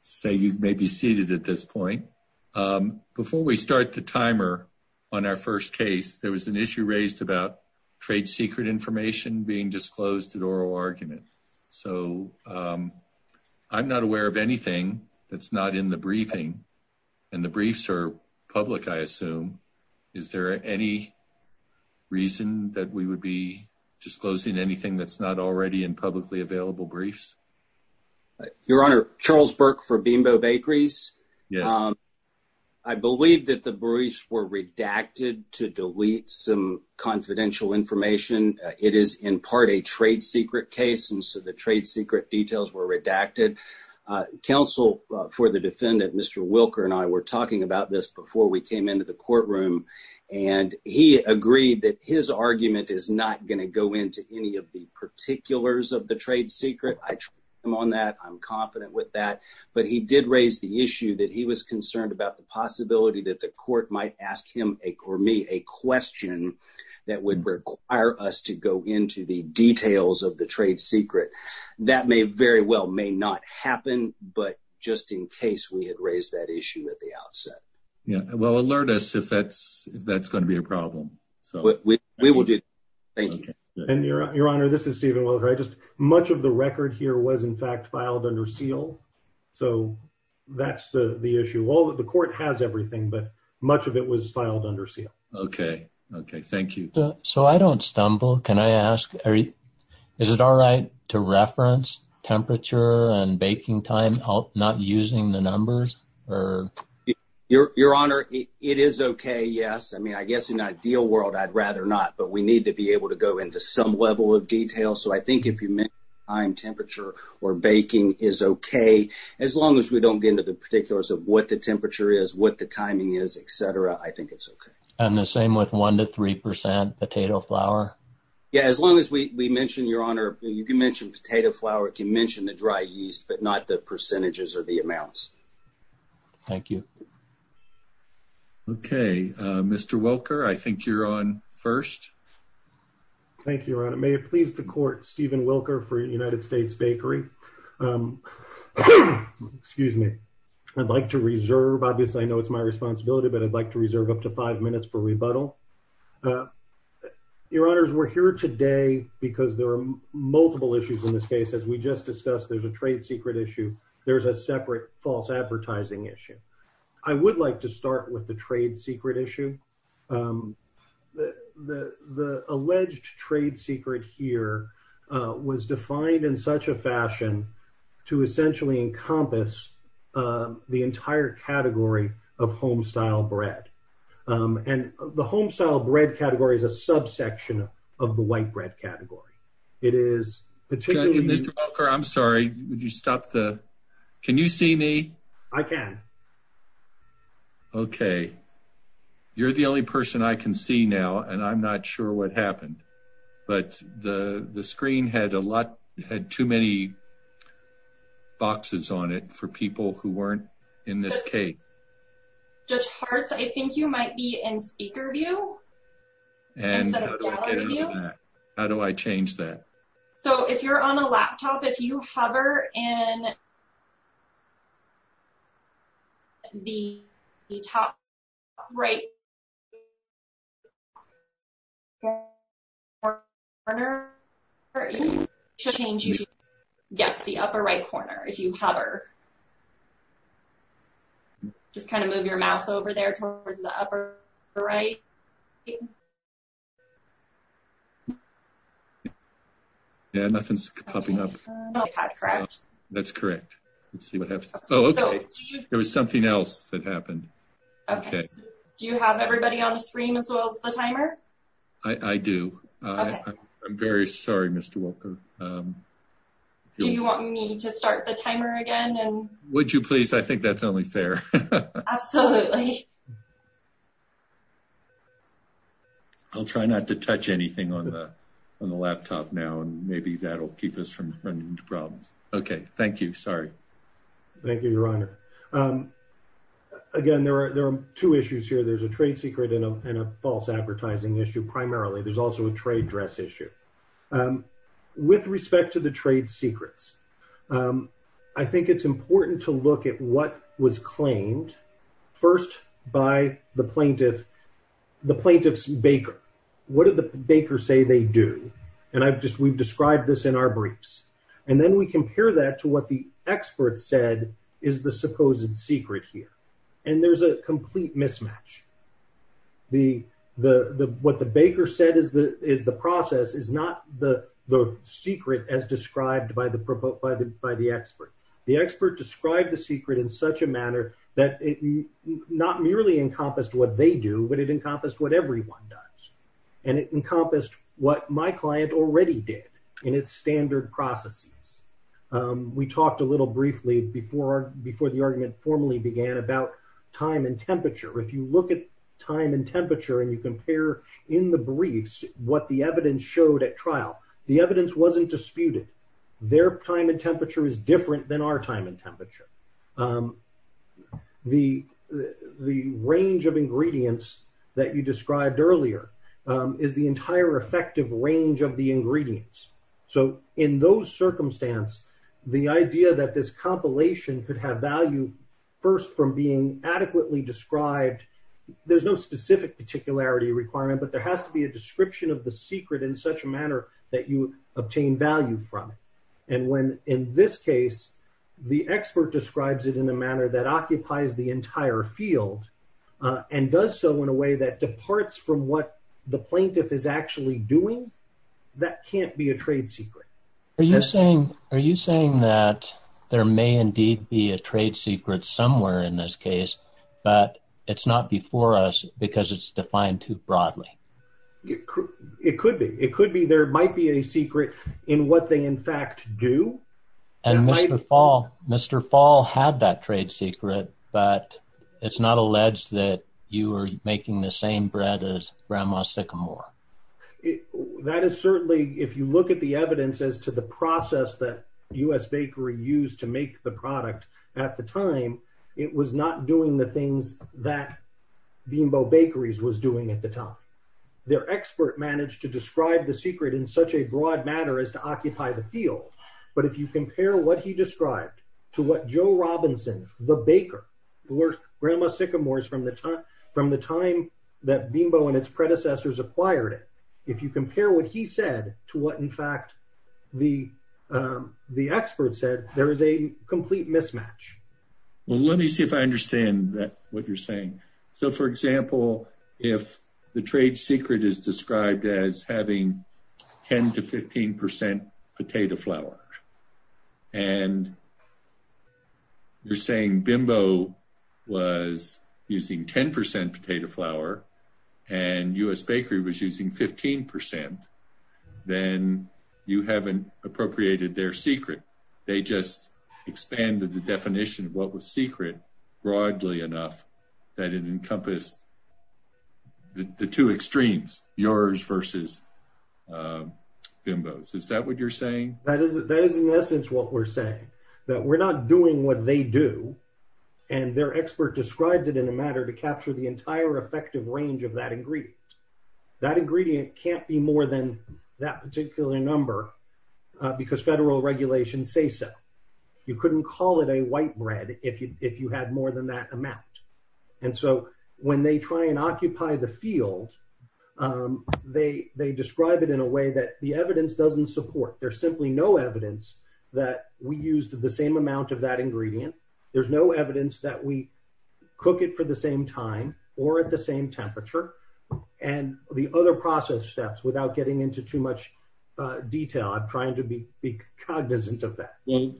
say you may be seated at this point um before we start the timer on our first case there was an issue raised about trade secret information being disclosed at oral argument so um i'm not aware of anything that's not in the briefing and the briefs are public i assume is there any reason that we would be disclosing anything that's not already in publicly available briefs your honor charles burke for bimbo bakeries um i believe that the briefs were redacted to delete some confidential information it is in part a trade secret case and so the trade secret details were redacted counsel for the defendant mr wilker and i were talking about this before we came into the courtroom and he agreed that his argument is not going to go into any of the particulars of the but he did raise the issue that he was concerned about the possibility that the court might ask him a or me a question that would require us to go into the details of the trade secret that may very well may not happen but just in case we had raised that issue at the outset yeah well alert us if that's if that's going to be a problem so we will do thank you and your honor this is steven just much of the record here was in fact filed under seal so that's the the issue all the court has everything but much of it was filed under seal okay okay thank you so i don't stumble can i ask is it all right to reference temperature and baking time not using the numbers or your your honor it is okay yes i mean i guess in an ideal world i'd rather not but we need to be able to go into some level of detail so i think if you mean time temperature or baking is okay as long as we don't get into the particulars of what the temperature is what the timing is etc i think it's okay and the same with one to three percent potato flour yeah as long as we we mentioned your honor you can mention potato flour can mention the dry yeast but not the percentages or the amounts thank you okay uh mr wilker i think you're on first thank you your honor may it please the court steven wilker for united states bakery um excuse me i'd like to reserve obviously i know it's my responsibility but i'd like to reserve up to five minutes for rebuttal uh your honors we're here today because there are multiple issues in this case as we just discussed there's a trade secret issue there's a separate false advertising issue i would like to start with the trade secret issue um the the the alleged trade secret here uh was defined in such a fashion to essentially encompass um the entire category of home style bread um and the home style bread category is a can you see me i can okay you're the only person i can see now and i'm not sure what happened but the the screen had a lot had too many boxes on it for people who weren't in this case judge hearts i think you might be in speaker view and how do i change that so if you're on a laptop if you hover in the top right yes the upper right corner if you hover just kind of move your mouse over there towards the upper right okay yeah nothing's popping up correct that's correct let's see what happens oh okay there was something else that happened okay do you have everybody on the screen as well as the timer i i do i'm very sorry mr walker um do you want me to start the timer again and would you please i think that's fair absolutely i'll try not to touch anything on the on the laptop now and maybe that'll keep us from running into problems okay thank you sorry thank you your honor um again there are there are two issues here there's a trade secret and a false advertising issue primarily there's also a trade issue um with respect to the trade secrets um i think it's important to look at what was claimed first by the plaintiff the plaintiff's baker what did the baker say they do and i've just we've described this in our briefs and then we compare that to what the experts said is the supposed secret here and there's a complete mismatch the the the what the baker said is the is the process is not the the secret as described by the proposed by the by the expert the expert described the secret in such a manner that it not merely encompassed what they do but it encompassed what everyone does and it encompassed what my client already did in its standard processes um we talked a little briefly before before the argument formally began about time and temperature if you look at time and temperature and you compare in the briefs what the evidence showed at trial the evidence wasn't disputed their time and temperature is different than our time and temperature um the the range of ingredients that you described earlier is the entire effective range of the ingredients so in those circumstance the idea that this compilation could have value first from being adequately described there's no specific particularity requirement but there has to be a description of the secret in such a manner that you obtain value from it and when in this case the expert describes it in a manner that occupies the entire field uh and does so in a way that departs from what the plaintiff is actually doing that can't be a trade secret are you saying are you saying that there may indeed be a trade secret somewhere in this case but it's not before us because it's defined too broadly it could be it could be there might be a secret in what they in fact do and mr fall mr fall had that trade secret but it's not alleged that you are making the same bread as grandma sycamore that is certainly if you look at the evidence as to the process that u.s bakery used to make the product at the time it was not doing the things that beanbo bakeries was doing at the time their expert managed to describe the secret in such a broad manner as to occupy the field but if you compare what he described to grandma sycamores from the time from the time that bimbo and its predecessors acquired it if you compare what he said to what in fact the um the expert said there is a complete mismatch well let me see if i understand that what you're saying so for example if the trade secret is described as having 10 to 15 potato flour and you're saying bimbo was using 10 potato flour and u.s bakery was using 15 then you haven't appropriated their secret they just expanded the definition of what broadly enough that it encompassed the two extremes yours versus uh bimbos is that what you're saying that is that is in essence what we're saying that we're not doing what they do and their expert described it in a matter to capture the entire effective range of that ingredient that ingredient can't be more than that particular number because federal regulations say you couldn't call it a white bread if you if you had more than that amount and so when they try and occupy the field um they they describe it in a way that the evidence doesn't support there's simply no evidence that we used the same amount of that ingredient there's no evidence that we cook it for the same time or at the same temperature and the other process steps without getting into too much detail i'm trying to be be cognizant of that well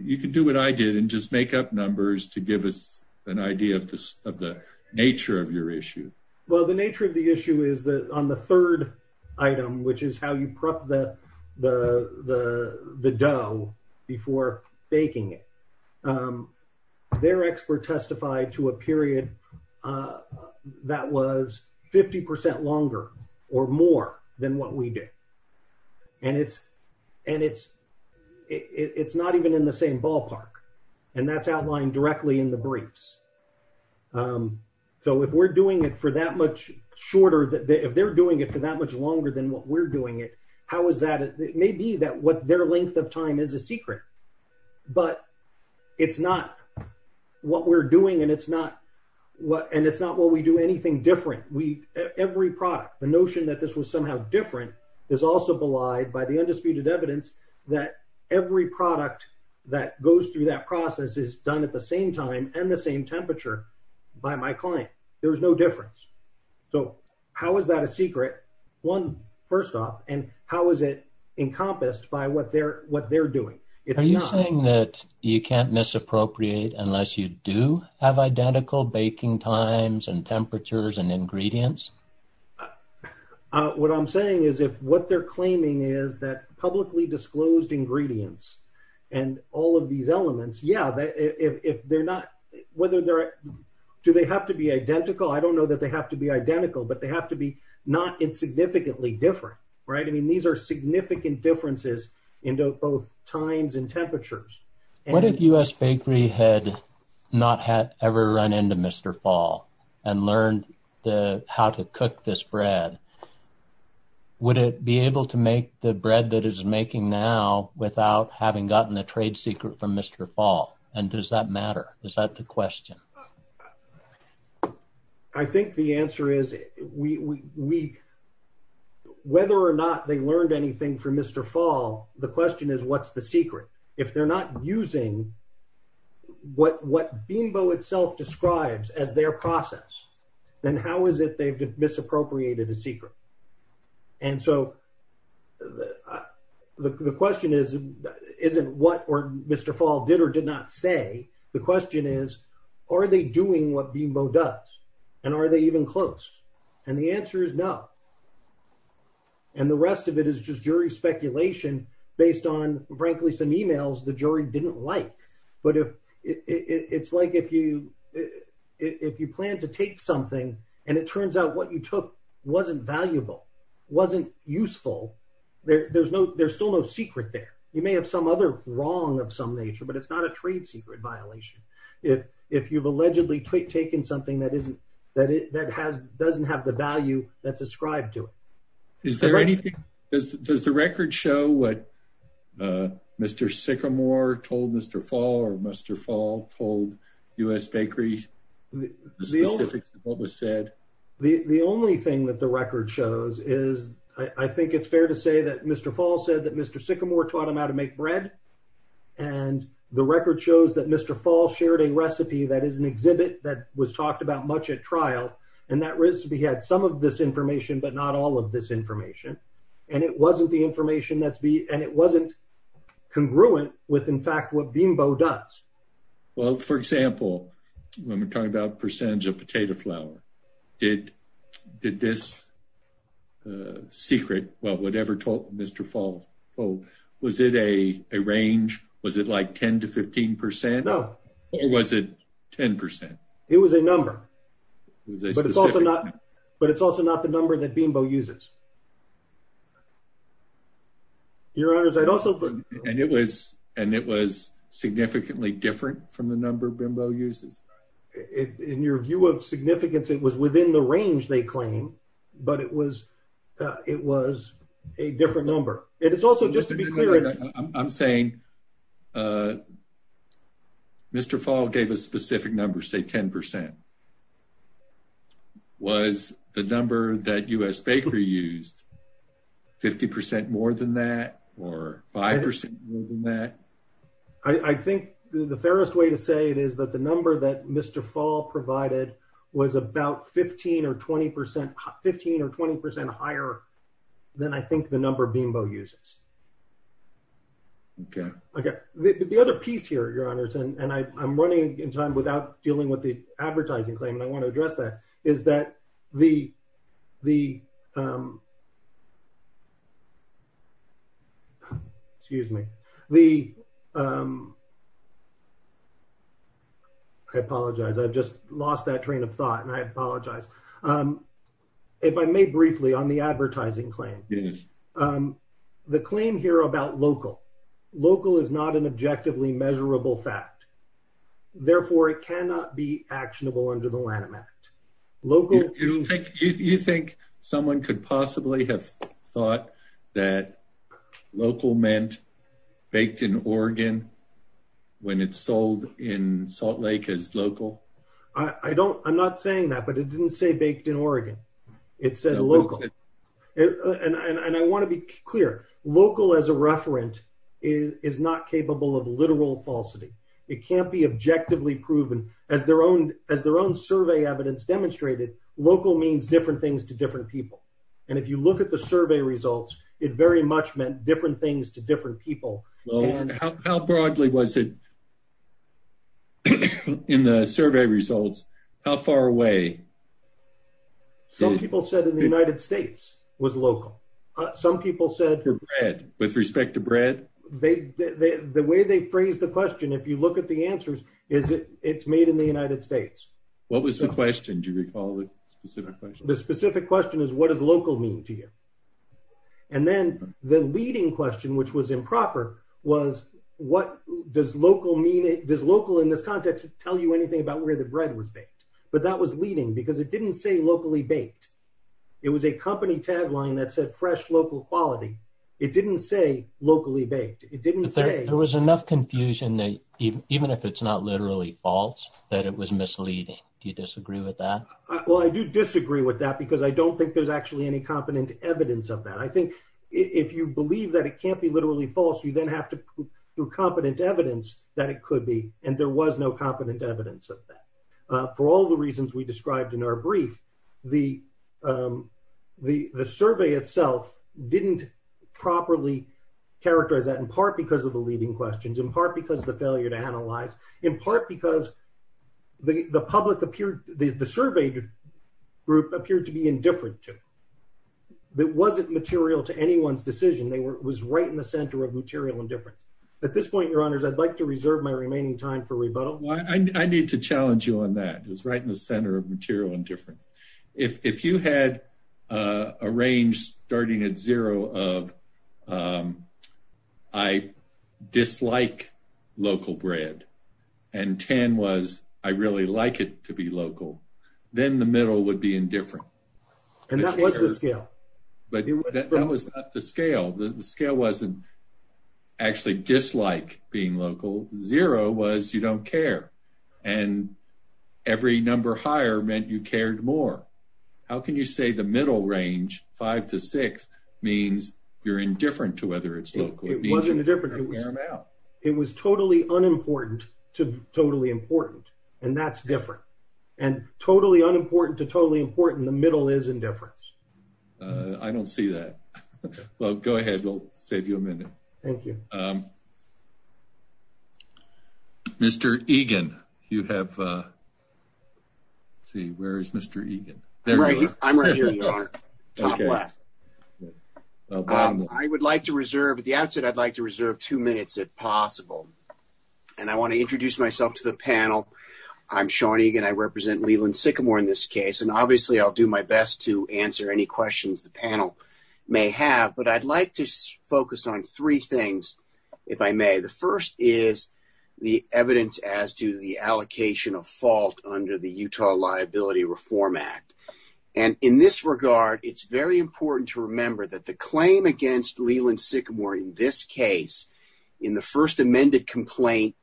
you can do what i did and just make up numbers to give us an idea of this of the nature of your issue well the nature of the issue is that on the third item which is how you prep the the the the dough before baking it their expert testified to a period uh that was 50 percent longer or more than what we did and it's and it's it's not even in the same ballpark and that's outlined directly in the briefs um so if we're doing it for that much shorter that if they're doing it for that much longer than what we're doing it how is that it may be that what their length of time is a secret but it's not what we're doing and it's not what and it's not what we do anything different we every product the notion that this was somehow different is also belied by the undisputed evidence that every product that goes through that process is done at the same time and the same temperature by my client there's no difference so how is that a secret one first off and how is it encompassed by what they're what they're doing it's nothing that you can't misappropriate unless you do have identical baking times and temperatures and ingredients what i'm saying is if what they're claiming is that publicly disclosed ingredients and all of these elements yeah if they're not whether they're do they have to be identical i don't know that they have to be identical but they have to be not insignificantly different right i mean these are significant differences into both times and temperatures what if u.s bakery had not had ever run into mr fall and learned the how to cook this bread would it be able to make the bread that is making now without having gotten the trade secret from mr fall and does that matter is that the question uh i think the answer is we we whether or not they learned anything from mr fall the question is what's the secret if they're not using what what beambo itself describes as their process then how is it they've misappropriated a secret and so the the question is isn't what or mr fall did or did not say the question is are they doing what beambo does and are they even close and the answer is no and the rest of it is just jury speculation based on frankly some emails the jury didn't like but if it's like if you if you plan to take something and it turns out what you took wasn't valuable wasn't useful there there's no there's still no secret there you may have some other wrong of some nature but it's not a trade secret violation if if you've allegedly taken something that isn't that it that has doesn't have the value that's ascribed to it is there anything does does the record show what uh mr sycamore told mr fall or mr fall told u.s bakery the specifics of what was said the the only thing that the record shows is i i think it's fair to say that mr fall said that mr sycamore taught him how to make bread and the record shows that mr fall shared a recipe that is an exhibit that was talked about much at trial and that recipe had some of this information but not all of this information and it wasn't the information that's b and it wasn't congruent with in fact what beambo does well for example when we're talking about percentage of potato flour did did this uh secret well whatever told mr fall oh was it a a range was it like 10 to 15 percent no or was it 10 it was a number but it's also not but it's also not the number that bimbo uses your honors i'd also put and it was and it was significantly different from the number bimbo uses it in your view of significance it was within the range they claim but it was it was a different number and it's also just to be clear i'm saying uh mr fall gave a specific number say 10 percent was the number that u.s bakery used 50 percent more than that or five percent more than that i i think the fairest way to say it is that the number that mr fall provided was about 15 or 20 percent 15 or 20 percent higher than i think the number bimbo uses okay okay the other piece here your honors and and i i'm running in time without dealing with the advertising claim and i want to address that is that the the um excuse me the um i apologize i've just lost that train of thought and i apologize um if i may briefly on the advertising claim yes um the claim here about local local is not an objectively measurable fact therefore it cannot be actionable under the lanham act local you think you think someone could possibly have thought that local meant baked in oregon when it's sold in salt lake as local i i don't i'm not saying that but it didn't say baked in oregon it said local and and i want to be clear local as a referent is not capable of literal falsity it can't be objectively proven as their own as their own survey evidence demonstrated local means different things to different people and if you look at the survey results it very much meant different things to different people how broadly was it in the survey results how far away some people said in the united states was local some people said her bread with respect to bread they they the way they phrased the question if you look the answers is it it's made in the united states what was the question do you recall the specific question the specific question is what does local mean to you and then the leading question which was improper was what does local mean it does local in this context tell you anything about where the bread was baked but that was leading because it didn't say locally baked it was a company tagline that said fresh local quality it didn't say locally baked it didn't say there was enough confusion that even if it's not literally false that it was misleading do you disagree with that well i do disagree with that because i don't think there's actually any competent evidence of that i think if you believe that it can't be literally false you then have to do competent evidence that it could be and there was no competent evidence of that for all the reasons we described in our brief the um the the survey itself didn't properly characterize that in part because of the leading questions in part because the failure to analyze in part because the the public appeared the the survey group appeared to be indifferent to it wasn't material to anyone's decision they were was right in the center of material indifference at this point your honors i'd like to reserve my remaining time for rebuttal i i need to challenge you on that it was right in different if if you had uh a range starting at zero of um i dislike local bread and tan was i really like it to be local then the middle would be indifferent and that was the scale but that was not the scale the scale wasn't actually dislike being local zero was you don't care and every number higher meant you cared more how can you say the middle range five to six means you're indifferent to whether it's local it wasn't indifferent it was it was totally unimportant to totally important and that's different and totally unimportant to totally important the middle is indifference i don't see that well go ahead we'll save you a minute thank you um mr egan you have uh let's see where is mr egan i'm right here you are top left i would like to reserve at the outset i'd like to reserve two minutes if possible and i want to introduce myself to the panel i'm sean egan i represent leland sycamore in this case and obviously i'll do my best to answer any questions the panel may have but i'd like to focus on three things if i may the first is the evidence as to the allocation of fault under the utah liability reform act and in this regard it's very important to remember that the claim against leland sycamore in this case in the first amended complaint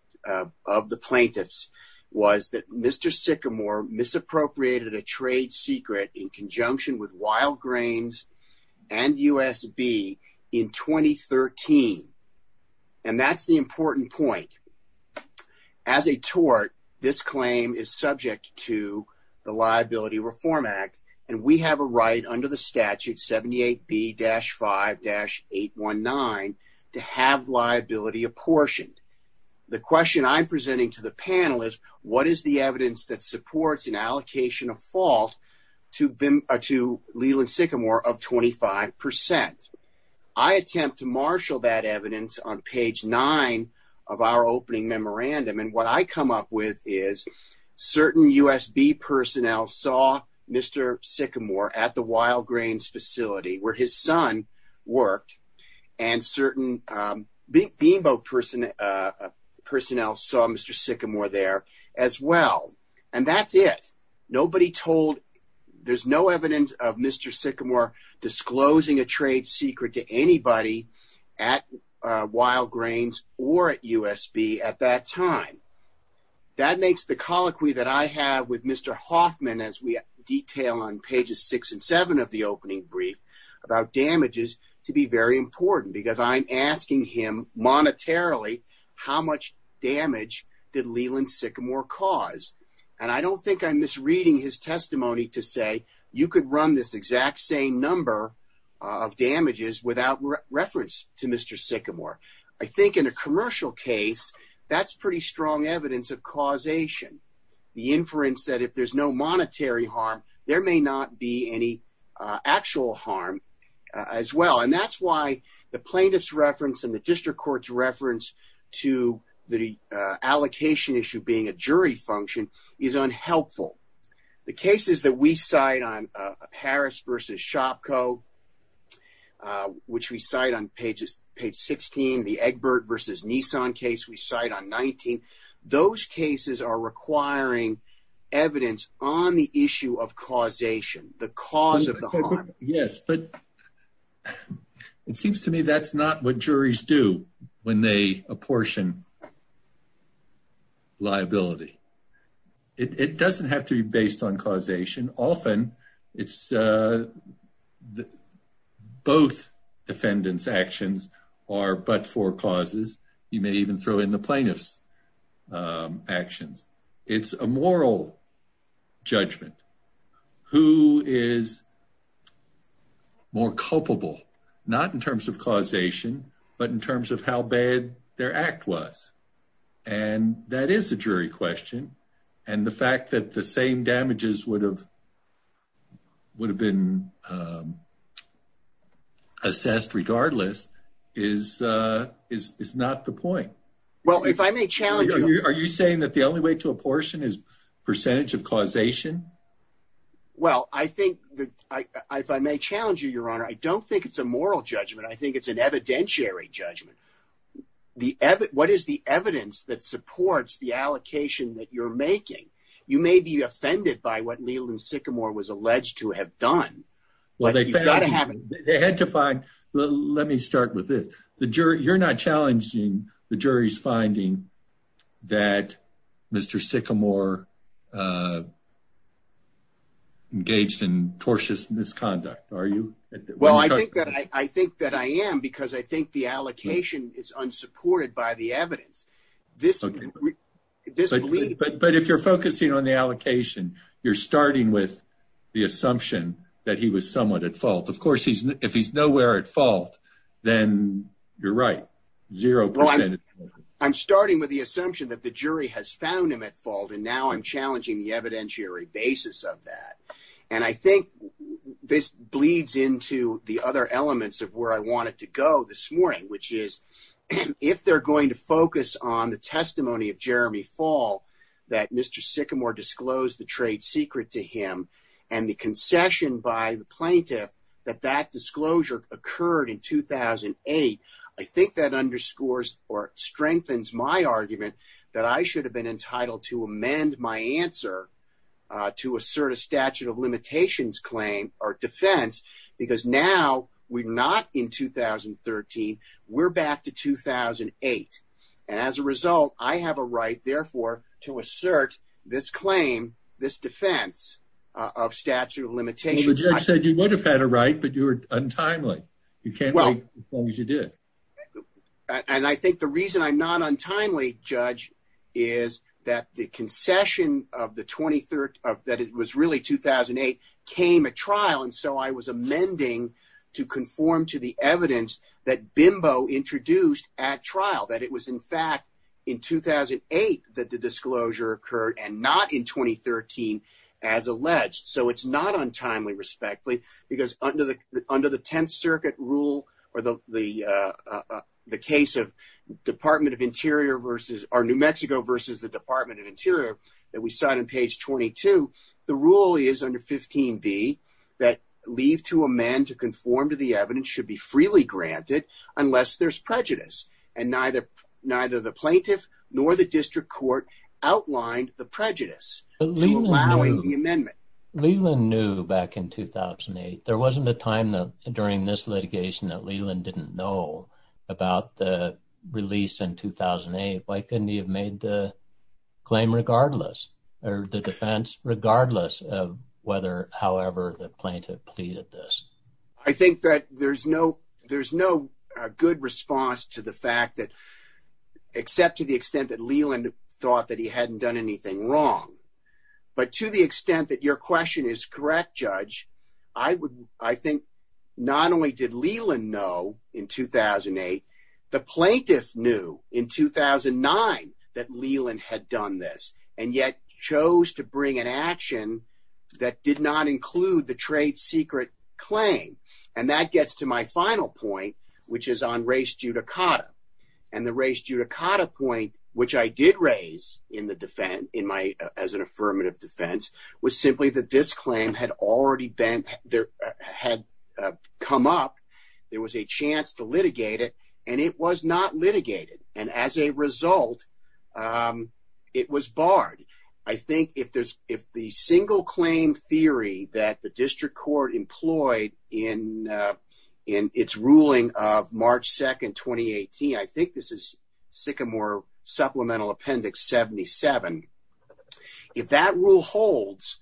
of the plaintiffs was that mr sycamore misappropriated a trade secret in conjunction with wild grains and usb in 2013 and that's the important point as a tort this claim is subject to the liability reform act and we have a right under the statute 78 b-5-819 to have liability apportioned the question i'm presenting to the panel is what is the evidence that supports an allocation of fault to bim to leland sycamore of 25 i attempt to marshal that evidence on page nine of our opening memorandum and what i come up with is certain usb personnel saw mr sycamore at the wild grains facility where his son worked and certain um beamboat person uh personnel saw mr sycamore there as well and that's it nobody told there's no evidence of mr sycamore disclosing a trade secret to anybody at wild grains or at usb at that time that makes the colloquy that i have with mr hoffman as we detail on pages six and seven of the opening brief about damages to be very important because i'm asking him monetarily how much damage did leland sycamore cause and i don't think i'm misreading his testimony to say you could run this exact same number of damages without reference to mr sycamore i think in a commercial case that's pretty strong evidence of causation the inference that if there's no actual harm as well and that's why the plaintiff's reference and the district court's reference to the allocation issue being a jury function is unhelpful the cases that we cite on harris versus shopko which we cite on pages page 16 the egbert versus nissan case we cite on 19 those cases are requiring evidence on the issue of causation the cause of the harm yes but it seems to me that's not what juries do when they apportion liability it doesn't have to be based on causation often it's uh the both defendant's actions are but for causes you may even throw in the plaintiff's actions it's a moral judgment who is more culpable not in terms of causation but in terms of how bad their act was and that is a jury question and the fact that the same damages would have would have been um assessed regardless is uh is is not the point well if i may challenge are you saying that the only way to apportion is percentage of causation well i think that i if i may challenge you your honor i don't think it's a moral judgment i think it's an evidentiary judgment the what is the evidence that supports the allocation that you're making you may be offended by what leland sycamore was alleged to have done well they had to find let me start with this the jury you're not challenging the jury's finding that mr sycamore uh engaged in tortious misconduct are you well i think that i i think that i am because i think the allocation is unsupported by the evidence this this but but if you're focusing on the allocation you're starting with the assumption that he was somewhat at fault of course he's if he's nowhere at fault then you're right zero i'm starting with the assumption that the jury has found him at fault and now i'm challenging the evidentiary basis of that and i think this bleeds into the other elements of where i wanted to go this morning which is if they're going to focus on the testimony of jeremy fall that mr sycamore disclosed the trade secret to him and the concession by the plaintiff that that disclosure occurred in 2008 i think that underscores or strengthens my argument that i should have been entitled to amend my answer to assert a statute of limitations claim or defense because now we're not in 2013 we're back to 2008 and as a result i have a right therefore to assert this claim this defense of statute of limitations i said you would have had a right but you were untimely you can't wait as long as you did and i think the reason i'm not untimely judge is that the concession of the 23rd of that it was really 2008 came at trial and so i was amending to conform to the evidence that bimbo introduced at trial that it was in fact in 2008 that the disclosure occurred and not in 2013 as alleged so it's not untimely respectfully because under the under the 10th circuit rule or the the uh the case of department of interior versus our new mexico versus the department of interior that we cite on page 22 the rule is under 15b that leave to amend to be freely granted unless there's prejudice and neither neither the plaintiff nor the district court outlined the prejudice allowing the amendment leland knew back in 2008 there wasn't a time that during this litigation that leland didn't know about the release in 2008 why couldn't he have made the claim regardless or the defense regardless of whether however the plaintiff pleaded this i think that there's no there's no good response to the fact that except to the extent that leland thought that he hadn't done anything wrong but to the extent that your question is correct judge i would i think not only did leland know in 2008 the plaintiff knew in 2009 that leland had done this and yet chose to bring an action that did not include the trade secret claim and that gets to my final point which is on race judicata and the race judicata point which i did raise in the defense in my as an affirmative defense was simply that this claim had already been there had come up there was a chance to litigate it and it was not litigated and as a result um it was barred i think if there's if the single claim theory that the district court employed in uh in its ruling of march 2nd 2018 i think this is sycamore supplemental appendix 77 if that rule holds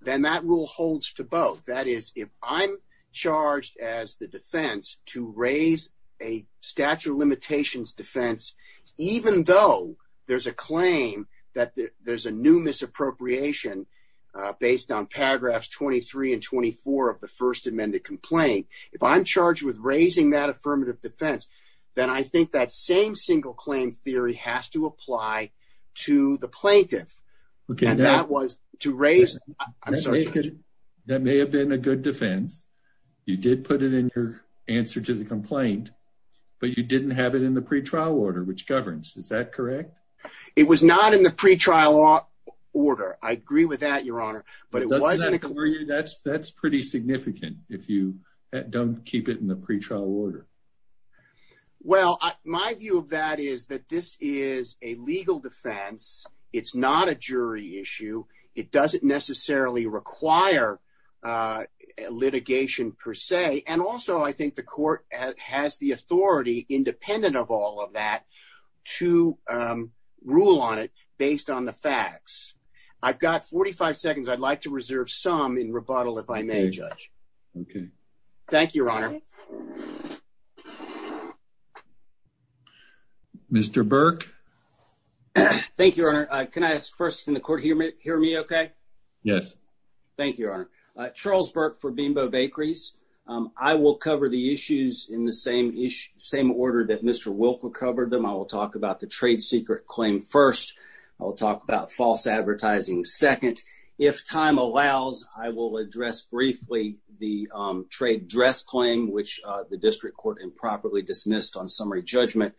then that rule holds to both that is if i'm charged as the defense to raise a statute of limitations defense even though there's a claim that there's a new misappropriation based on paragraphs 23 and 24 of the first amended complaint if i'm charged with raising that affirmative defense then i think that same single claim theory has to apply to the plaintiff okay that was to raise that may have been a good defense you did put it in your answer to the complaint but you didn't have it in the pre-trial order which governs is that correct it was not in the pre-trial order i agree with that your honor but it wasn't for you that's that's pretty significant if you don't keep it in the pre-trial order well my view of that is that this is a legal defense it's not a jury issue it doesn't necessarily require uh litigation per se and also i think the court has the authority independent of all of that to um rule on it based on the facts i've got 45 seconds i'd like to reserve some in rebuttal if i may judge okay thank you your honor mr burke thank you your honor uh can i ask first in the court hear me hear me okay yes thank you your honor uh charles burke for bimbo bakeries um i will cover the issues in the same issue same order that mr wilk recovered them i will talk about the trade secret claim first i'll talk about false advertising second if time allows i will address briefly the trade dress claim which the district court improperly dismissed on summary judgment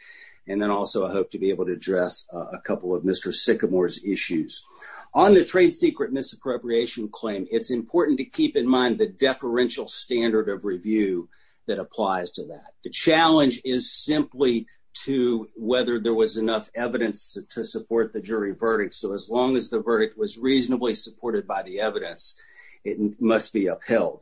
and then also i hope to be able to address a couple of mr sycamore's issues on the trade secret misappropriation claim it's important to keep in mind the deferential standard of review that applies to that the challenge is simply to whether there was enough evidence to support the jury verdict so as long as the verdict was reasonably supported by the evidence it must be upheld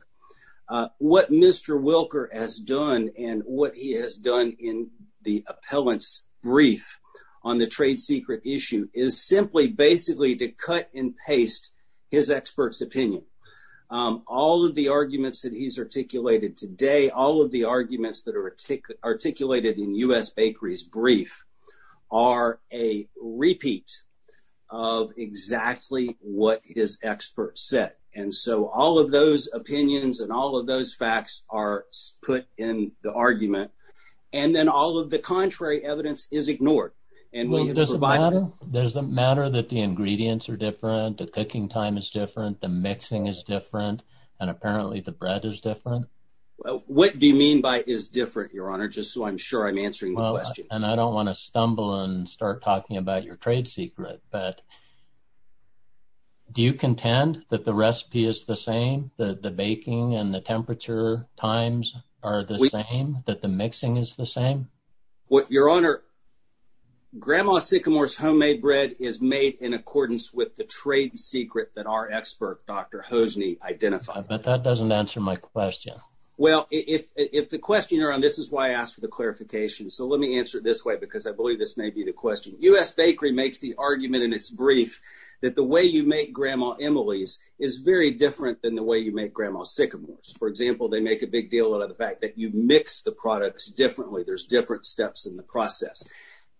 what mr wilker has done and what he has done in the appellant's brief on the trade secret issue is simply basically to cut and paste his expert's opinion all of the arguments that he's articulated today all of the arguments that are articulated in u.s bakeries brief are a repeat of exactly what his expert said and so all of those opinions and all of those facts are put in the argument and then all of the contrary evidence is ignored and does it matter does it matter that the ingredients are different the cooking time is different the mixing is different and apparently the bread is different well what do you mean by is different your honor just so i'm sure i'm answering the question and i don't want to stumble and start talking about your trade secret but do you contend that the recipe is the same that the baking and the temperature times are the same that the mixing is the same what your honor grandma sycamore's homemade bread is made in accordance with the trade secret that our expert dr hosny identified but that doesn't answer my question well if if the questioner on this is why i asked for the clarification so let me answer it this way because i believe this may be the question u.s bakery makes the argument in its brief that the way you make grandma emily's is very different than the way you make grandma sycamores for example they make a big deal out of the fact that you mix the products differently there's different steps in the process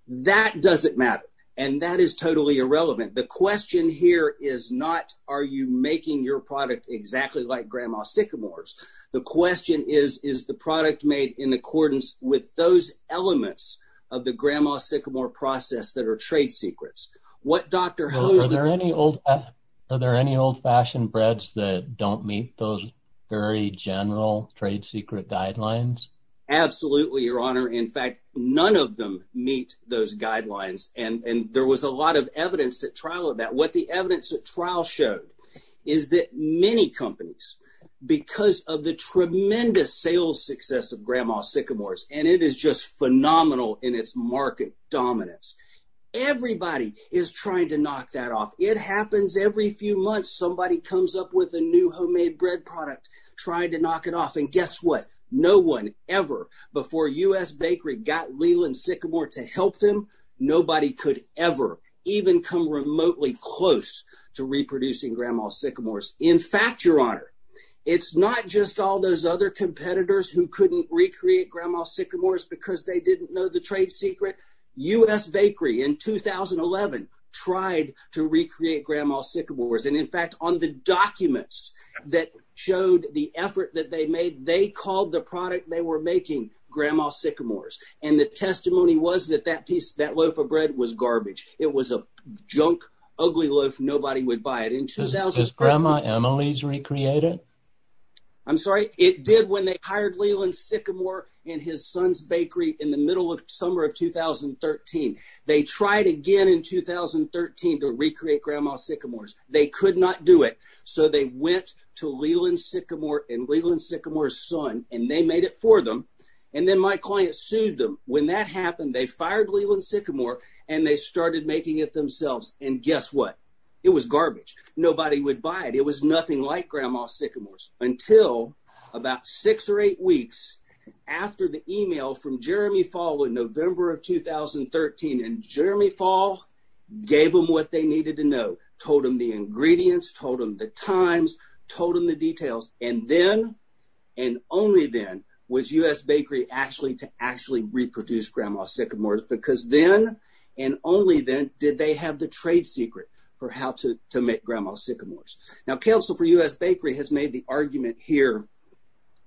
that doesn't matter and that is totally irrelevant the question here is not are you making your product exactly like grandma sycamores the question is is the product made in accordance with those elements of the grandma sycamore process that are trade secrets what dr how is there any old are there any old-fashioned breads that don't meet those very general trade secret guidelines absolutely your honor in fact none of them meet those guidelines and and there was a what the evidence that trial showed is that many companies because of the tremendous sales success of grandma sycamores and it is just phenomenal in its market dominance everybody is trying to knock that off it happens every few months somebody comes up with a new homemade bread product trying to knock it off and guess what no one ever before u.s bakery got leland sycamore to help them nobody could ever even come remotely close to reproducing grandma sycamores in fact your honor it's not just all those other competitors who couldn't recreate grandma sycamores because they didn't know the trade secret u.s bakery in 2011 tried to recreate grandma sycamores and in fact on the documents that showed the effort that they made they called the product they were making grandma sycamores and the testimony was that that piece that loaf of bread was garbage it was a junk ugly loaf nobody would buy it in 2000 grandma emily's recreated i'm sorry it did when they hired leland sycamore in his son's bakery in the middle of summer of 2013 they tried again in 2013 to recreate grandma sycamores they could not do it so they went to leland sycamore and leland sycamore's son and they made it for them and then my client sued them when that happened they fired leland sycamore and they started making it themselves and guess what it was garbage nobody would buy it it was nothing like grandma sycamores until about six or eight weeks after the email from jeremy fall in november of 2013 and jeremy fall gave them what they needed to know told them the and only then was u.s bakery actually to actually reproduce grandma sycamores because then and only then did they have the trade secret for how to to make grandma sycamores now council for u.s bakery has made the argument here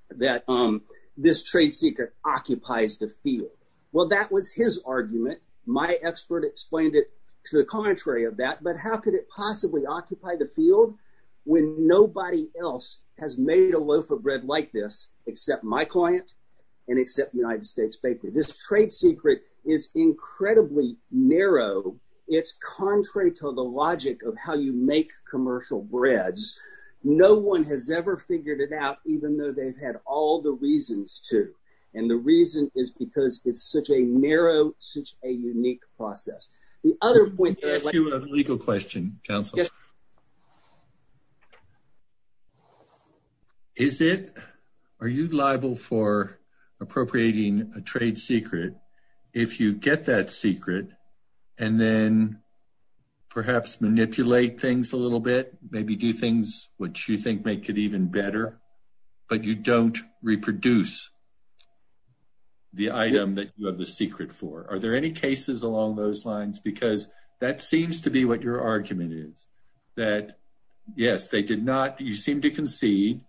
that um this trade secret occupies the field well that was his argument my expert explained it to the contrary of that but how could it possibly occupy the field when nobody else has made a loaf of bread like this except my client and except the united states bakery this trade secret is incredibly narrow it's contrary to the logic of how you make commercial breads no one has ever figured it out even though they've had all the reasons to and the reason is because it's such a narrow such a unique process the other point is a legal question counsel yes is it are you liable for appropriating a trade secret if you get that secret and then perhaps manipulate things a little bit maybe do things which you think make it even better but you don't reproduce the item that you have the secret for are there any cases along those lines because that seems to be what your argument is that yes they did not you seem to concede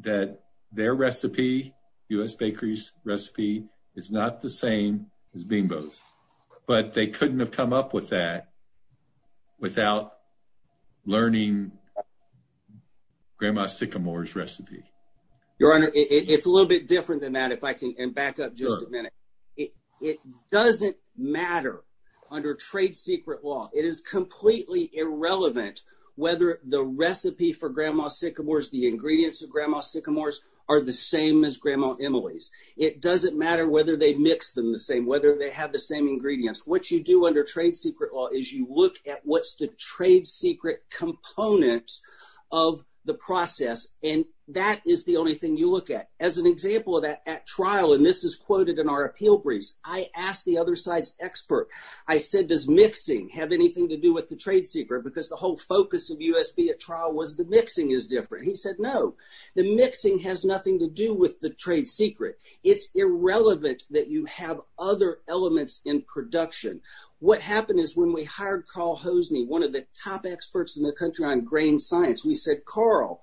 that their recipe u.s bakery's recipe is not the same as bingos but they couldn't have come up with that without learning grandma sycamores recipe your honor it's a little bit different than and back up just a minute it doesn't matter under trade secret law it is completely irrelevant whether the recipe for grandma sycamores the ingredients of grandma sycamores are the same as grandma emily's it doesn't matter whether they mix them the same whether they have the same ingredients what you do under trade secret law is you look at what's the trade secret component of the process and that is the only thing you look at as an example of that at trial and this is quoted in our appeal briefs i asked the other side's expert i said does mixing have anything to do with the trade secret because the whole focus of usb at trial was the mixing is different he said no the mixing has nothing to do with the trade secret it's irrelevant that you have other elements in production what happened is when we hired carl hosny one of the top experts in the grain science we said carl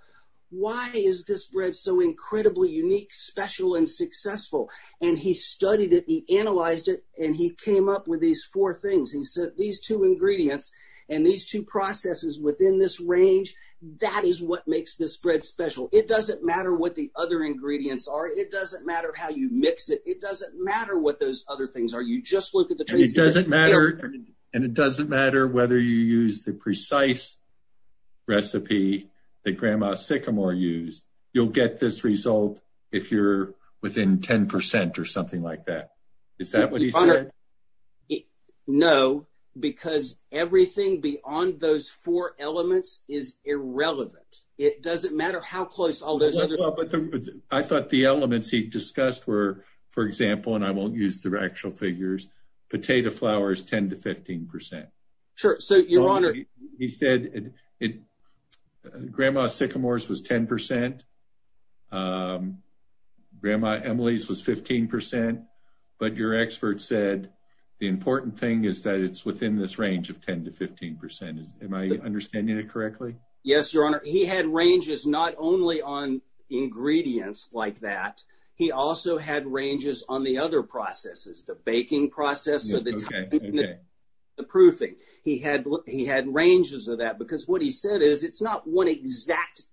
why is this bread so incredibly unique special and successful and he studied it he analyzed it and he came up with these four things he said these two ingredients and these two processes within this range that is what makes this bread special it doesn't matter what the other ingredients are it doesn't matter how you mix it it doesn't matter what those other things are you just look at the it doesn't matter and it doesn't matter whether you use the precise recipe that grandma sycamore used you'll get this result if you're within 10 percent or something like that is that what he said no because everything beyond those four elements is irrelevant it doesn't matter how close all those other i thought the elements he discussed were for example and i won't use the actual figures potato flour is 10 to 15 percent sure so your honor he said it grandma sycamores was 10 percent grandma emily's was 15 but your expert said the important thing is that it's within this range of 10 to 15 percent is am i understanding it correctly yes your honor he had ranges not only on ingredients like that he also had ranges on other processes the baking process okay the proofing he had he had ranges of that because what he said is it's not one exact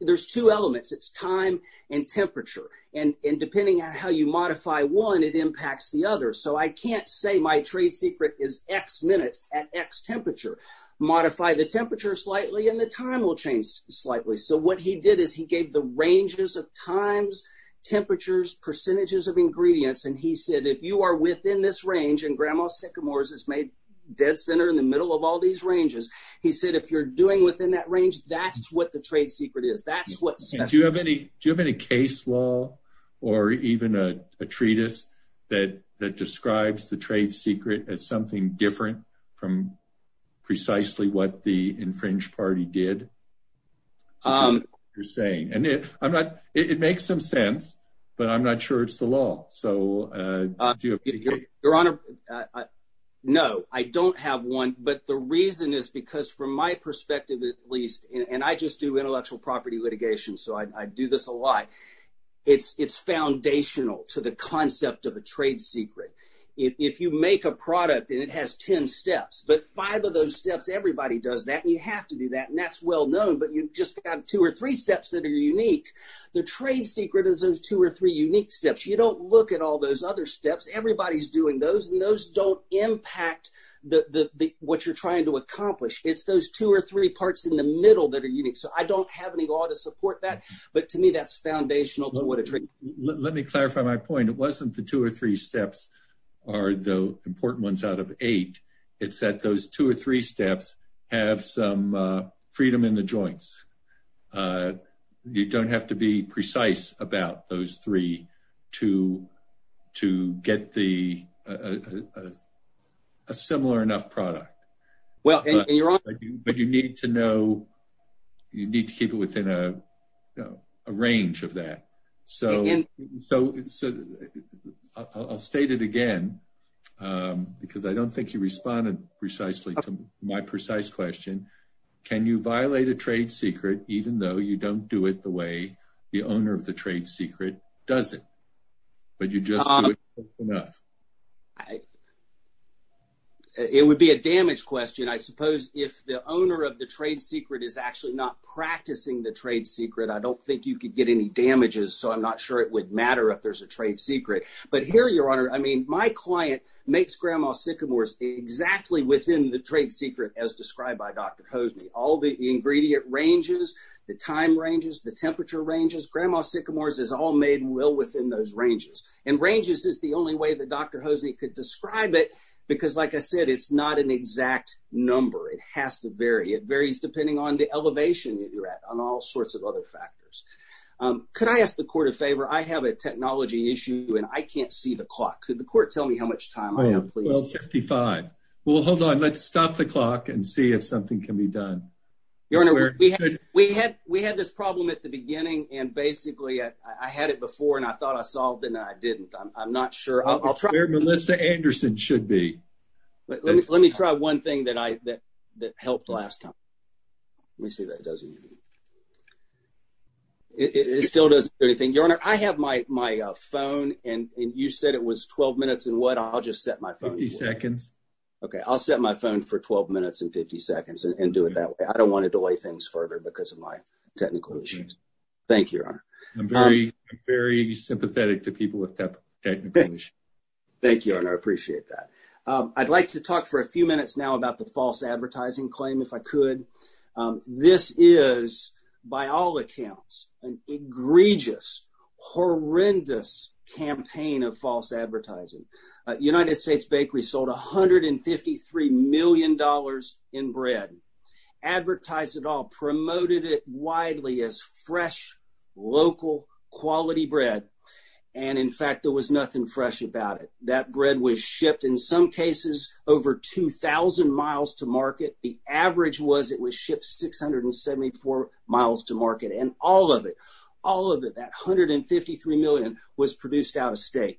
there's two elements it's time and temperature and depending on how you modify one it impacts the other so i can't say my trade secret is x minutes at x temperature modify the temperature slightly and the time will change slightly so what he did is gave the ranges of times temperatures percentages of ingredients and he said if you are within this range and grandma sycamores is made dead center in the middle of all these ranges he said if you're doing within that range that's what the trade secret is that's what do you have any do you have any case law or even a treatise that that describes the trade secret as something different from precisely what the infringed party did um you're saying and if i'm not it makes some sense but i'm not sure it's the law so uh your honor no i don't have one but the reason is because from my perspective at least and i just do intellectual property litigation so i do this a lot it's it's foundational to the concept of a but five of those steps everybody does that and you have to do that and that's well known but you just got two or three steps that are unique the trade secret is those two or three unique steps you don't look at all those other steps everybody's doing those and those don't impact the the what you're trying to accomplish it's those two or three parts in the middle that are unique so i don't have any law to support that but to me that's foundational to what it let me clarify my it's that those two or three steps have some uh freedom in the joints uh you don't have to be precise about those three to to get the a similar enough product well and you're on but you need to know you need to keep it within a a range of that so so i'll state it again um because i don't think you responded precisely to my precise question can you violate a trade secret even though you don't do it the way the owner of the trade secret does it but you just do it enough it would be a damage question i suppose if the owner of the trade secret is actually not practicing the trade secret i don't think you could get any damages so i'm not sure it would matter if there's a trade secret but here your honor i mean my client makes grandma sycamore's exactly within the trade secret as described by dr hosny all the ingredient ranges the time ranges the temperature ranges grandma sycamores is all made well within those ranges and ranges is the only way that dr hosny could describe it because like i said it's not an exact number it has to vary it varies depending on the elevation that you're at on all sorts of other factors um could i ask the court a favor i have a technology issue and i can't see the clock could the court tell me how much time i have please well 55 well hold on let's stop the clock and see if something can be done your honor we had we had we had this problem at the beginning and basically i i had it before and i thought i solved it and i didn't i'm not sure i'll try where melissa anderson should be but let me let me try one thing that i that that helped last time let me see that doesn't it still doesn't do anything your honor i have my my uh phone and and you said it was 12 minutes and what i'll just set my phone seconds okay i'll set my phone for 12 minutes and 50 seconds and do it that way i don't want to delay things further because of my technical issues thank you your honor i'm very very sympathetic to people with that technical issue thank you i appreciate that um i'd like to talk for a few minutes now about the false advertising claim if i could this is by all accounts an egregious horrendous campaign of false advertising united states bakery sold 153 million dollars in bread advertised it all promoted it widely as fresh local quality bread and in fact there was nothing fresh about it that bread was shipped in some cases over 2 000 miles to market the average was it was shipped 674 miles to market and all of it all of it that 153 million was produced out of state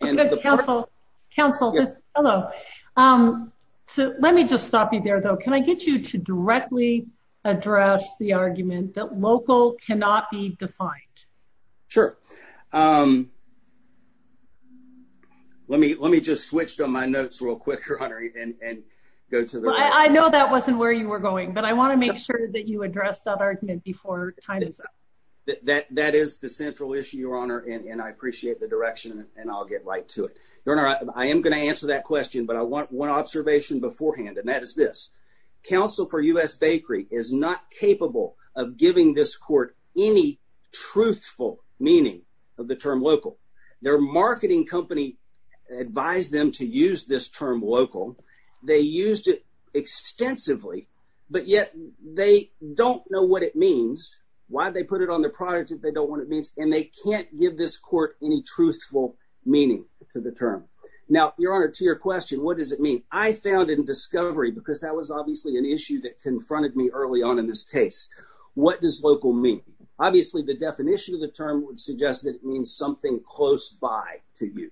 and counsel counsel hello um so let me just stop you there though can i get you to directly address the argument that local cannot be defined sure um um let me let me just switch to my notes real quick your honor and and go to the i know that wasn't where you were going but i want to make sure that you address that argument before time is up that that is the central issue your honor and i appreciate the direction and i'll get right to it your honor i am going to answer that question but i want one observation beforehand and that is this counsel for u.s bakery is not capable of giving this court any truthful meaning of the term local their marketing company advised them to use this term local they used it extensively but yet they don't know what it means why they put it on the product that they don't want it means and they can't give this court any truthful meaning to the term now your honor to your question what does it mean i found in discovery because that was obviously an issue that confronted me early on in this case what does local mean obviously the definition of the term would suggest that it means something close by to you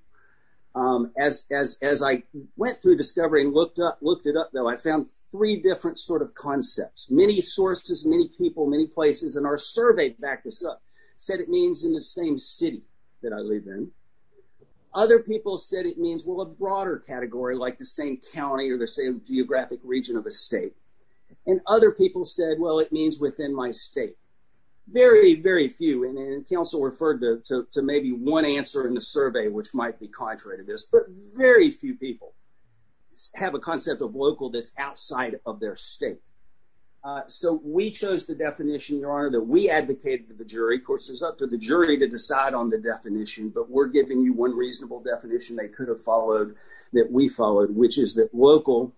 um as as as i went through discovery and looked up looked it up though i found three different sort of concepts many sources many people many places and our survey backed us up said it means in the same city that i live in other people said it means well a broader category like the same county or the same geographic region of a state and other people said well it means within my state very very few and then counsel referred to to maybe one answer in the survey which might be contrary to this but very few people have a concept of local that's outside of their state uh so we chose the definition your honor that we advocated to the jury of course it's up to the jury to decide on the definition but we're giving you one reasonable definition they could have followed that we followed which is that local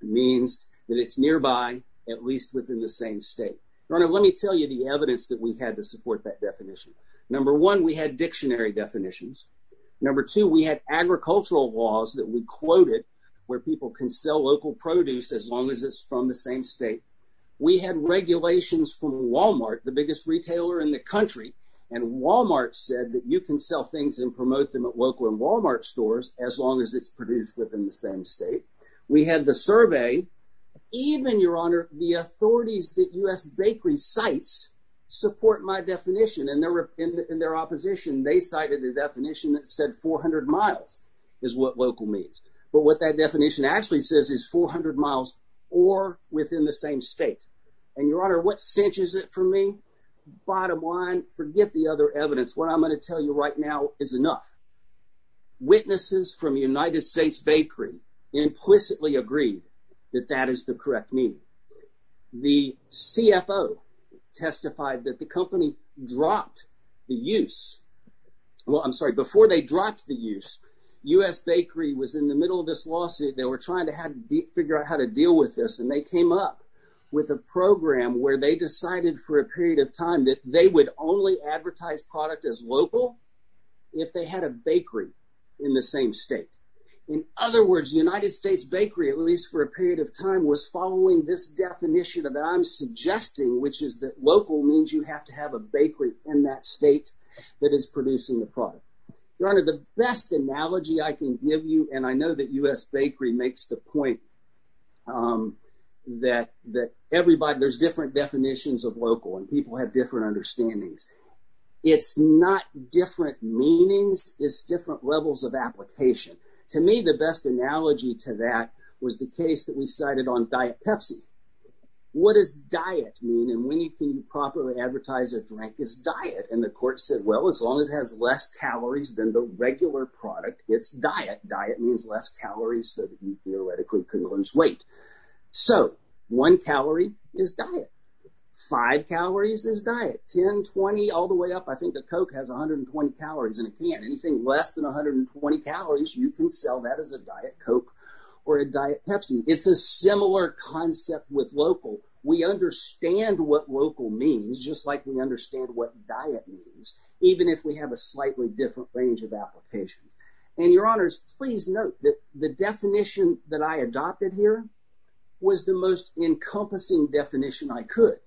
means that it's nearby at least within the same state rona let me tell you the evidence that we had to support that definition number one we had dictionary definitions number two we had agricultural laws that we quoted where people can sell local produce as long as it's from the same state we had regulations from walmart the biggest retailer in the country and walmart said that you can sell things and promote them at local and walmart stores as long as it's produced within the same state we had the survey even your honor the authorities that u.s bakery sites support my definition and they're in their opposition they cited the definition that said 400 miles is what local means but what that definition actually says is 400 miles or within the same state and your honor what cinches it for me bottom line forget the other evidence what i'm going to tell you right now is enough witnesses from united states bakery implicitly agreed that that is the correct meaning the cfo testified that the company dropped the use well i'm sorry before they dropped the use u.s bakery was in the middle of this lawsuit they were trying to have to figure out how to deal with this and they came up with a program where they decided for a period of time that they would only advertise product as local if they had a bakery in the same state in other words united states bakery at least for a period of time was following this definition that i'm suggesting which is that local means you have to have a bakery in that state that is producing the product your honor the best analogy i can give you and i people have different understandings it's not different meanings it's different levels of application to me the best analogy to that was the case that we cited on diet pepsi what does diet mean and when you can properly advertise a drink is diet and the court said well as long as it has less calories than the regular product it's diet diet means less calories so that you theoretically weight so one calorie is diet five calories is diet 10 20 all the way up i think a coke has 120 calories and it can't anything less than 120 calories you can sell that as a diet coke or a diet pepsi it's a similar concept with local we understand what local means just like we understand what diet means even if we have a slightly different range of application and your honors please note that the definition that i adopted here was the most encompassing definition i could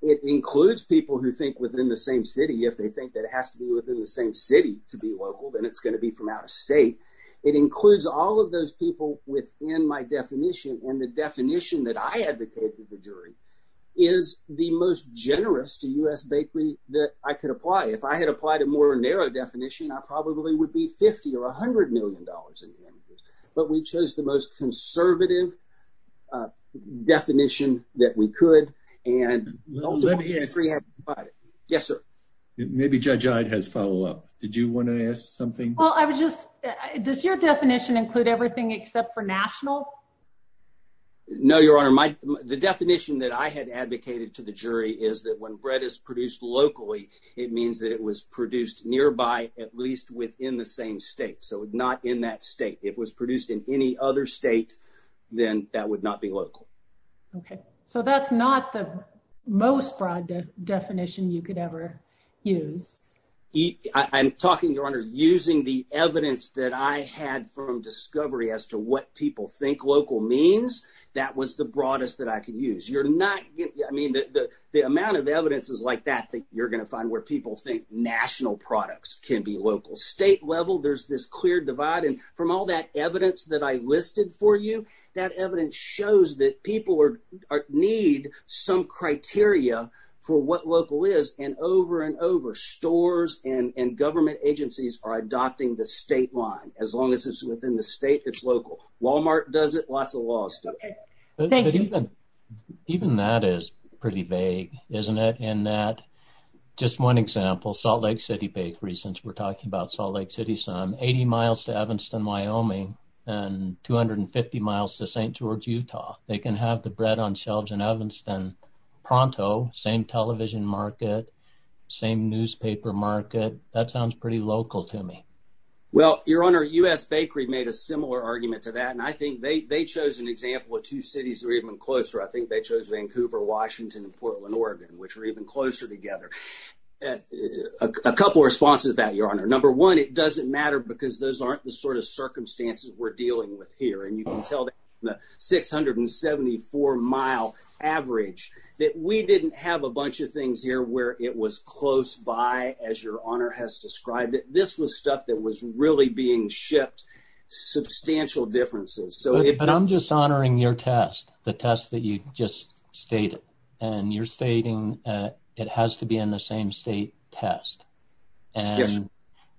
it includes people who think within the same city if they think that it has to be within the same city to be local then it's going to be from out of state it includes all of those people within my definition and the definition that i advocated the jury is the most generous to us bakery that i could but we chose the most conservative uh definition that we could and yes sir maybe judge eyed has follow-up did you want to ask something well i was just does your definition include everything except for national no your honor my the definition that i had advocated to the jury is that when bread is produced locally it means that it was produced nearby at least within the same state so not in that state it was produced in any other state then that would not be local okay so that's not the most broad definition you could ever use i'm talking your honor using the evidence that i had from discovery as to what people think local means that was the broadest that i could use you're not i mean the the amount of evidence is like that that you're going to find where people think national products can be local state level there's this clear divide and from all that evidence that i listed for you that evidence shows that people are need some criteria for what local is and over and over stores and and government agencies are adopting the state line as long as it's within the state it's local walmart does it lots of laws okay thank you even that is pretty vague isn't it in that just one example salt lake city bakery since we're talking about salt lake city some 80 miles to evanston wyoming and 250 miles to st george utah they can have the bread on shelves in evanston pronto same television market same newspaper market that sounds pretty local to me well your honor u.s bakery made a similar argument to that and i think they they an example of two cities or even closer i think they chose vancouver washington and portland oregon which are even closer together a couple responses about your honor number one it doesn't matter because those aren't the sort of circumstances we're dealing with here and you can tell the 674 mile average that we didn't have a bunch of things here where it was close by as your honor has described it this was stuff that was really being shipped substantial differences so but i'm just honoring your test the test that you just stated and you're stating uh it has to be in the same state test and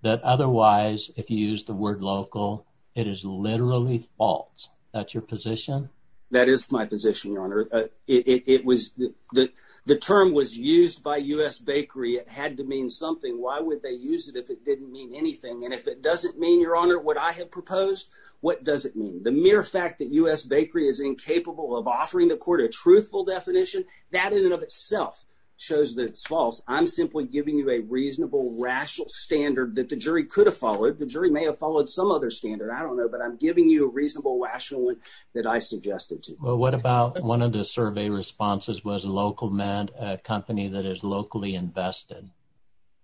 that otherwise if you use the word local it is literally false that's your position that is my position your honor it was the the term was used by u.s bakery it had to mean something why would they use it if it didn't mean anything and if it doesn't mean your honor what i have proposed what does it mean the mere fact that u.s bakery is incapable of offering the court a truthful definition that in and of itself shows that it's false i'm simply giving you a reasonable rational standard that the jury could have followed the jury may have followed some other standard i don't know but i'm giving you a reasonable rational one that i suggested to well what about one of the survey responses was a local man a company that is locally invested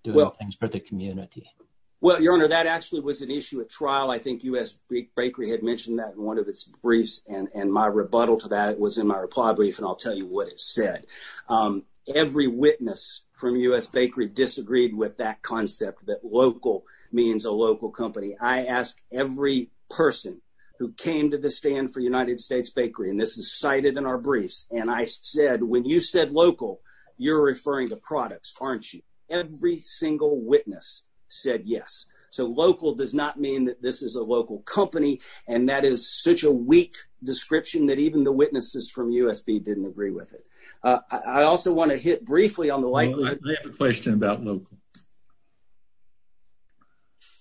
doing things for the community well your honor that actually was an issue at trial i think u.s bakery had mentioned that in one of its briefs and and my rebuttal to that it was in my reply brief and i'll tell you what it said um every witness from u.s bakery disagreed with that concept that local means a local company i asked every person who came to the stand for united states bakery and this is cited in our briefs and i said when you said local you're referring to products aren't you every single witness said yes so local does not mean that this is a local company and that is such a weak description that even the witnesses from usb didn't agree with it uh i also want to hit briefly on the light i have a question about local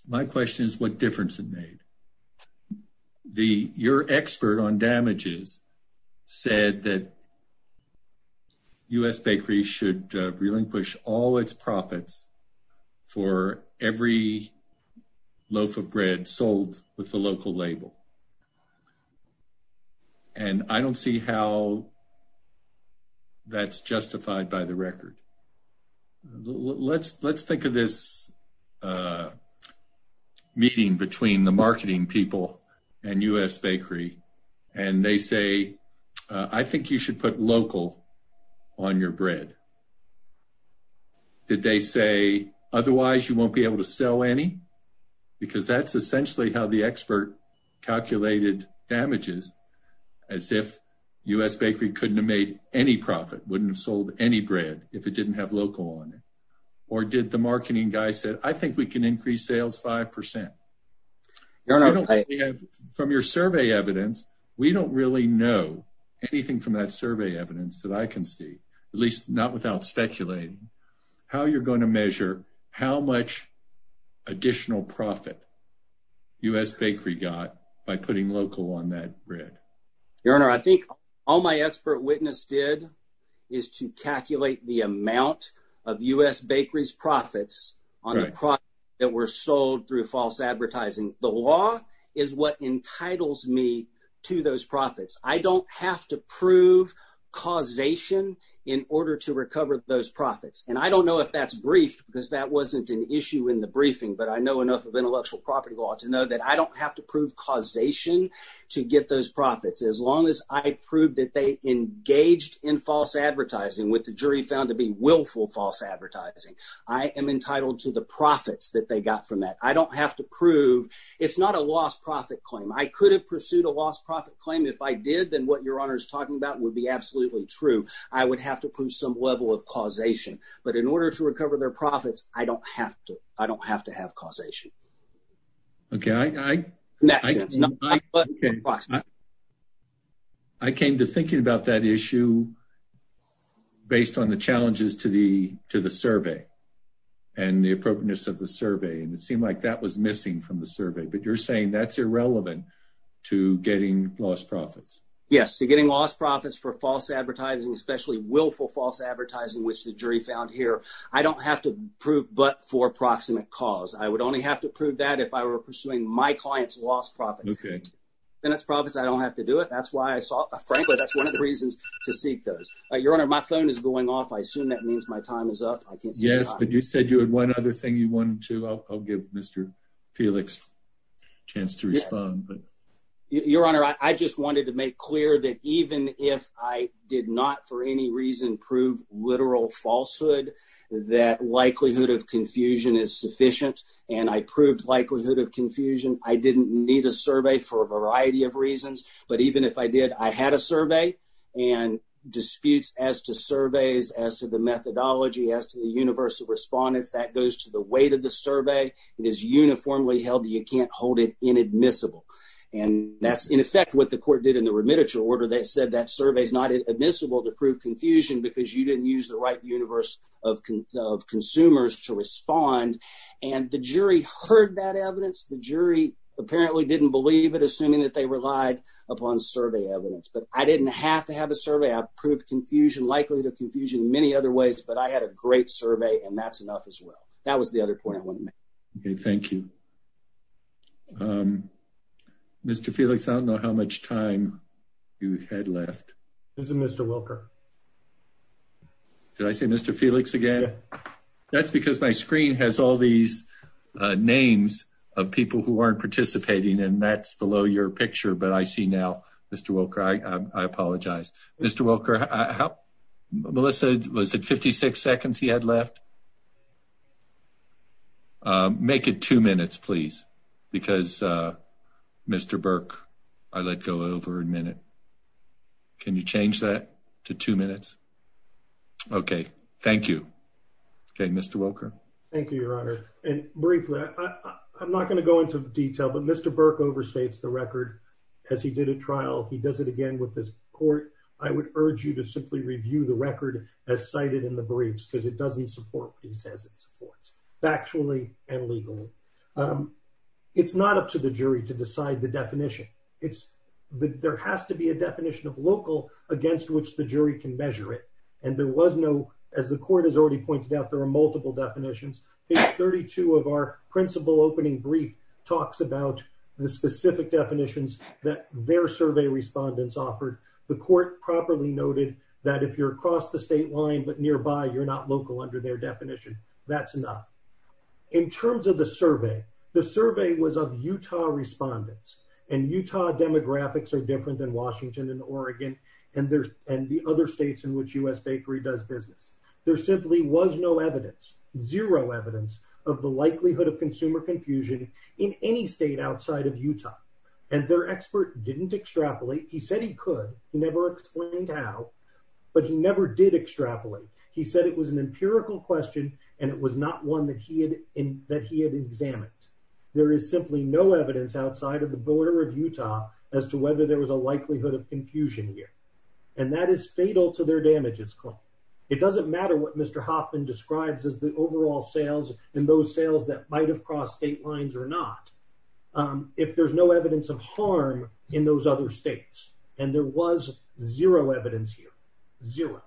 my question is what difference it made the your expert on damages said that u.s bakery should relinquish all its profits for every loaf of bread sold with the local label and i don't see how that's justified by the record let's let's think of this meeting between the marketing people and u.s bakery and they say i think you should put local on your bread did they say otherwise you won't be able to sell any because that's essentially how the expert calculated damages as if u.s bakery couldn't have made any profit wouldn't have sold any bread if it didn't have local on it or did the marketing guy said i think we can increase sales five percent from your survey evidence we don't really know anything from that survey evidence that i can see at least not without speculating how you're going to measure how much additional profit u.s bakery got by putting local on that bread your honor i think all my expert witness did is to calculate the amount of u.s bakery's profits on the product that were sold through false advertising the law is what entitles me to those profits i don't have to prove causation in order to recover those profits and i don't know if that's brief because that wasn't an issue in the briefing but i know enough of intellectual property law to know that i don't have to prove causation to get those profits as long as i proved that they engaged in false advertising with the jury found to be willful false advertising i am entitled to the profits that they got from that i don't have to prove it's not a lost profit claim i could have pursued a lost profit claim if i did then what your honor is talking about would be absolutely true i would have to prove some level of causation but in order to recover their profits i don't have to i don't have to have causation okay i i i came to thinking about that issue based on the challenges to the to the survey and the appropriateness of the survey and it seemed like that was missing from the survey but you're saying that's irrelevant to getting lost profits yes to getting lost profits for false advertising especially willful false advertising which the jury found here i don't have to prove but for proximate cause i would only have to prove that if i were pursuing my clients lost profits okay then it's profits i don't have to do it that's why i saw frankly that's one of the reasons to seek those your honor my phone is going off i yes but you said you had one other thing you wanted to i'll give mr felix chance to respond but your honor i just wanted to make clear that even if i did not for any reason prove literal falsehood that likelihood of confusion is sufficient and i proved likelihood of confusion i didn't need a survey for a variety of reasons but even if i did i had a survey and disputes as to methodology as to the universe of respondents that goes to the weight of the survey it is uniformly held you can't hold it inadmissible and that's in effect what the court did in the remit order they said that survey is not admissible to prove confusion because you didn't use the right universe of consumers to respond and the jury heard that evidence the jury apparently didn't believe it assuming that they relied upon survey evidence but i didn't have to have a survey i've proved confusion likelihood of confusion many other ways but i had a great survey and that's enough as well that was the other point i want to make okay thank you um mr felix i don't know how much time you had left isn't mr wilker did i say mr felix again that's because my screen has all these names of people who aren't participating and that's below your picture but i see now mr wilker i i apologize mr wilker how melissa was it 56 seconds he had left um make it two minutes please because uh mr burke i let go over a minute can you change that to two minutes okay thank you okay mr wilker thank you your honor and briefly i'm not going to go into detail but mr burke overstates the record as he did a trial he does it again with this court i would urge you to simply review the record as cited in the briefs because it doesn't support what he says it supports factually and legally um it's not up to the jury to decide the definition it's the there has to be a definition of local against which the jury can measure it and there was no as the court has already pointed out there are multiple definitions page 32 of our principal opening brief talks about the specific definitions that their survey respondents offered the court properly noted that if you're across the state line but nearby you're not local under their definition that's not in terms of the survey the survey was of utah respondents and utah demographics are different than washington and oregon and there's and the of the likelihood of consumer confusion in any state outside of utah and their expert didn't extrapolate he said he could he never explained how but he never did extrapolate he said it was an empirical question and it was not one that he had in that he had examined there is simply no evidence outside of the border of utah as to whether there was a likelihood of confusion here and that is fatal to their damages claim it doesn't matter what mr hoffman describes as the overall sales and those sales that might have crossed state lines or not um if there's no evidence of harm in those other states and there was zero evidence here zero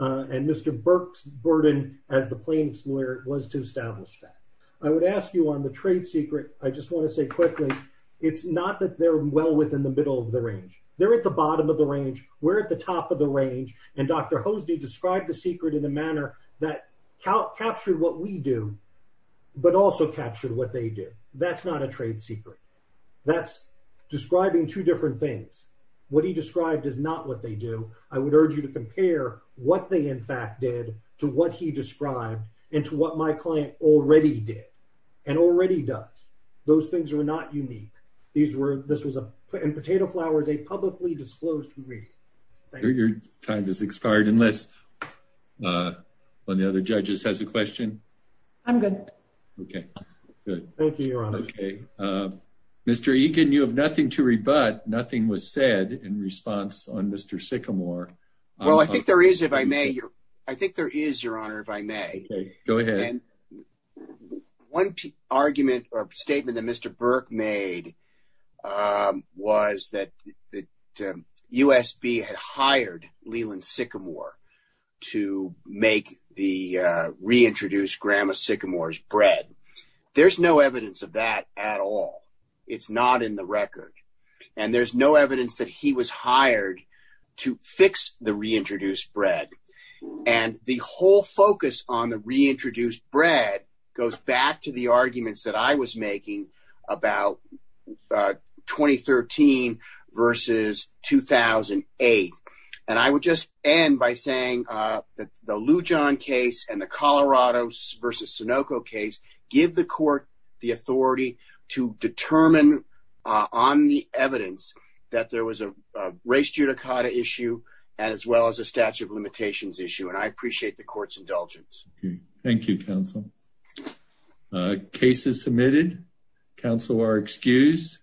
uh and mr burke's burden as the plaintiffs lawyer was to establish that i would ask you on the trade secret i just want to say quickly it's not that they're well within the middle of the range they're at the bottom of the range we're at the top of the range and dr hosdy described the secret in a manner that captured what we do but also captured what they do that's not a trade secret that's describing two different things what he described is not what they do i would urge you to compare what they in fact did to what he described and to what my client already did and already does those things are not unique these were this was a and potato flower is a publicly disclosed degree your time has expired unless uh when the other judges has a question i'm good okay good thank you your honor okay uh mr egan you have nothing to rebut nothing was said in response on mr sycamore well i think there is if i may i think there is your honor if i may go ahead one argument or statement that mr burke made um was that that usb had hired leland sycamore to make the uh reintroduce grandma sycamore's bread there's no evidence of that at all it's not in the record and there's no evidence that he was hired to fix the reintroduced bread and the whole focus on the reintroduced bread goes back to the arguments that i was making about uh 2013 versus 2008 and i would just end by saying uh that the lujan case and the colorado versus sunoco case give the court the authority to determine on the evidence that there was a race judicata issue and as well as a statute limitations issue and i appreciate the court's indulgence thank you counsel cases submitted counsel are excused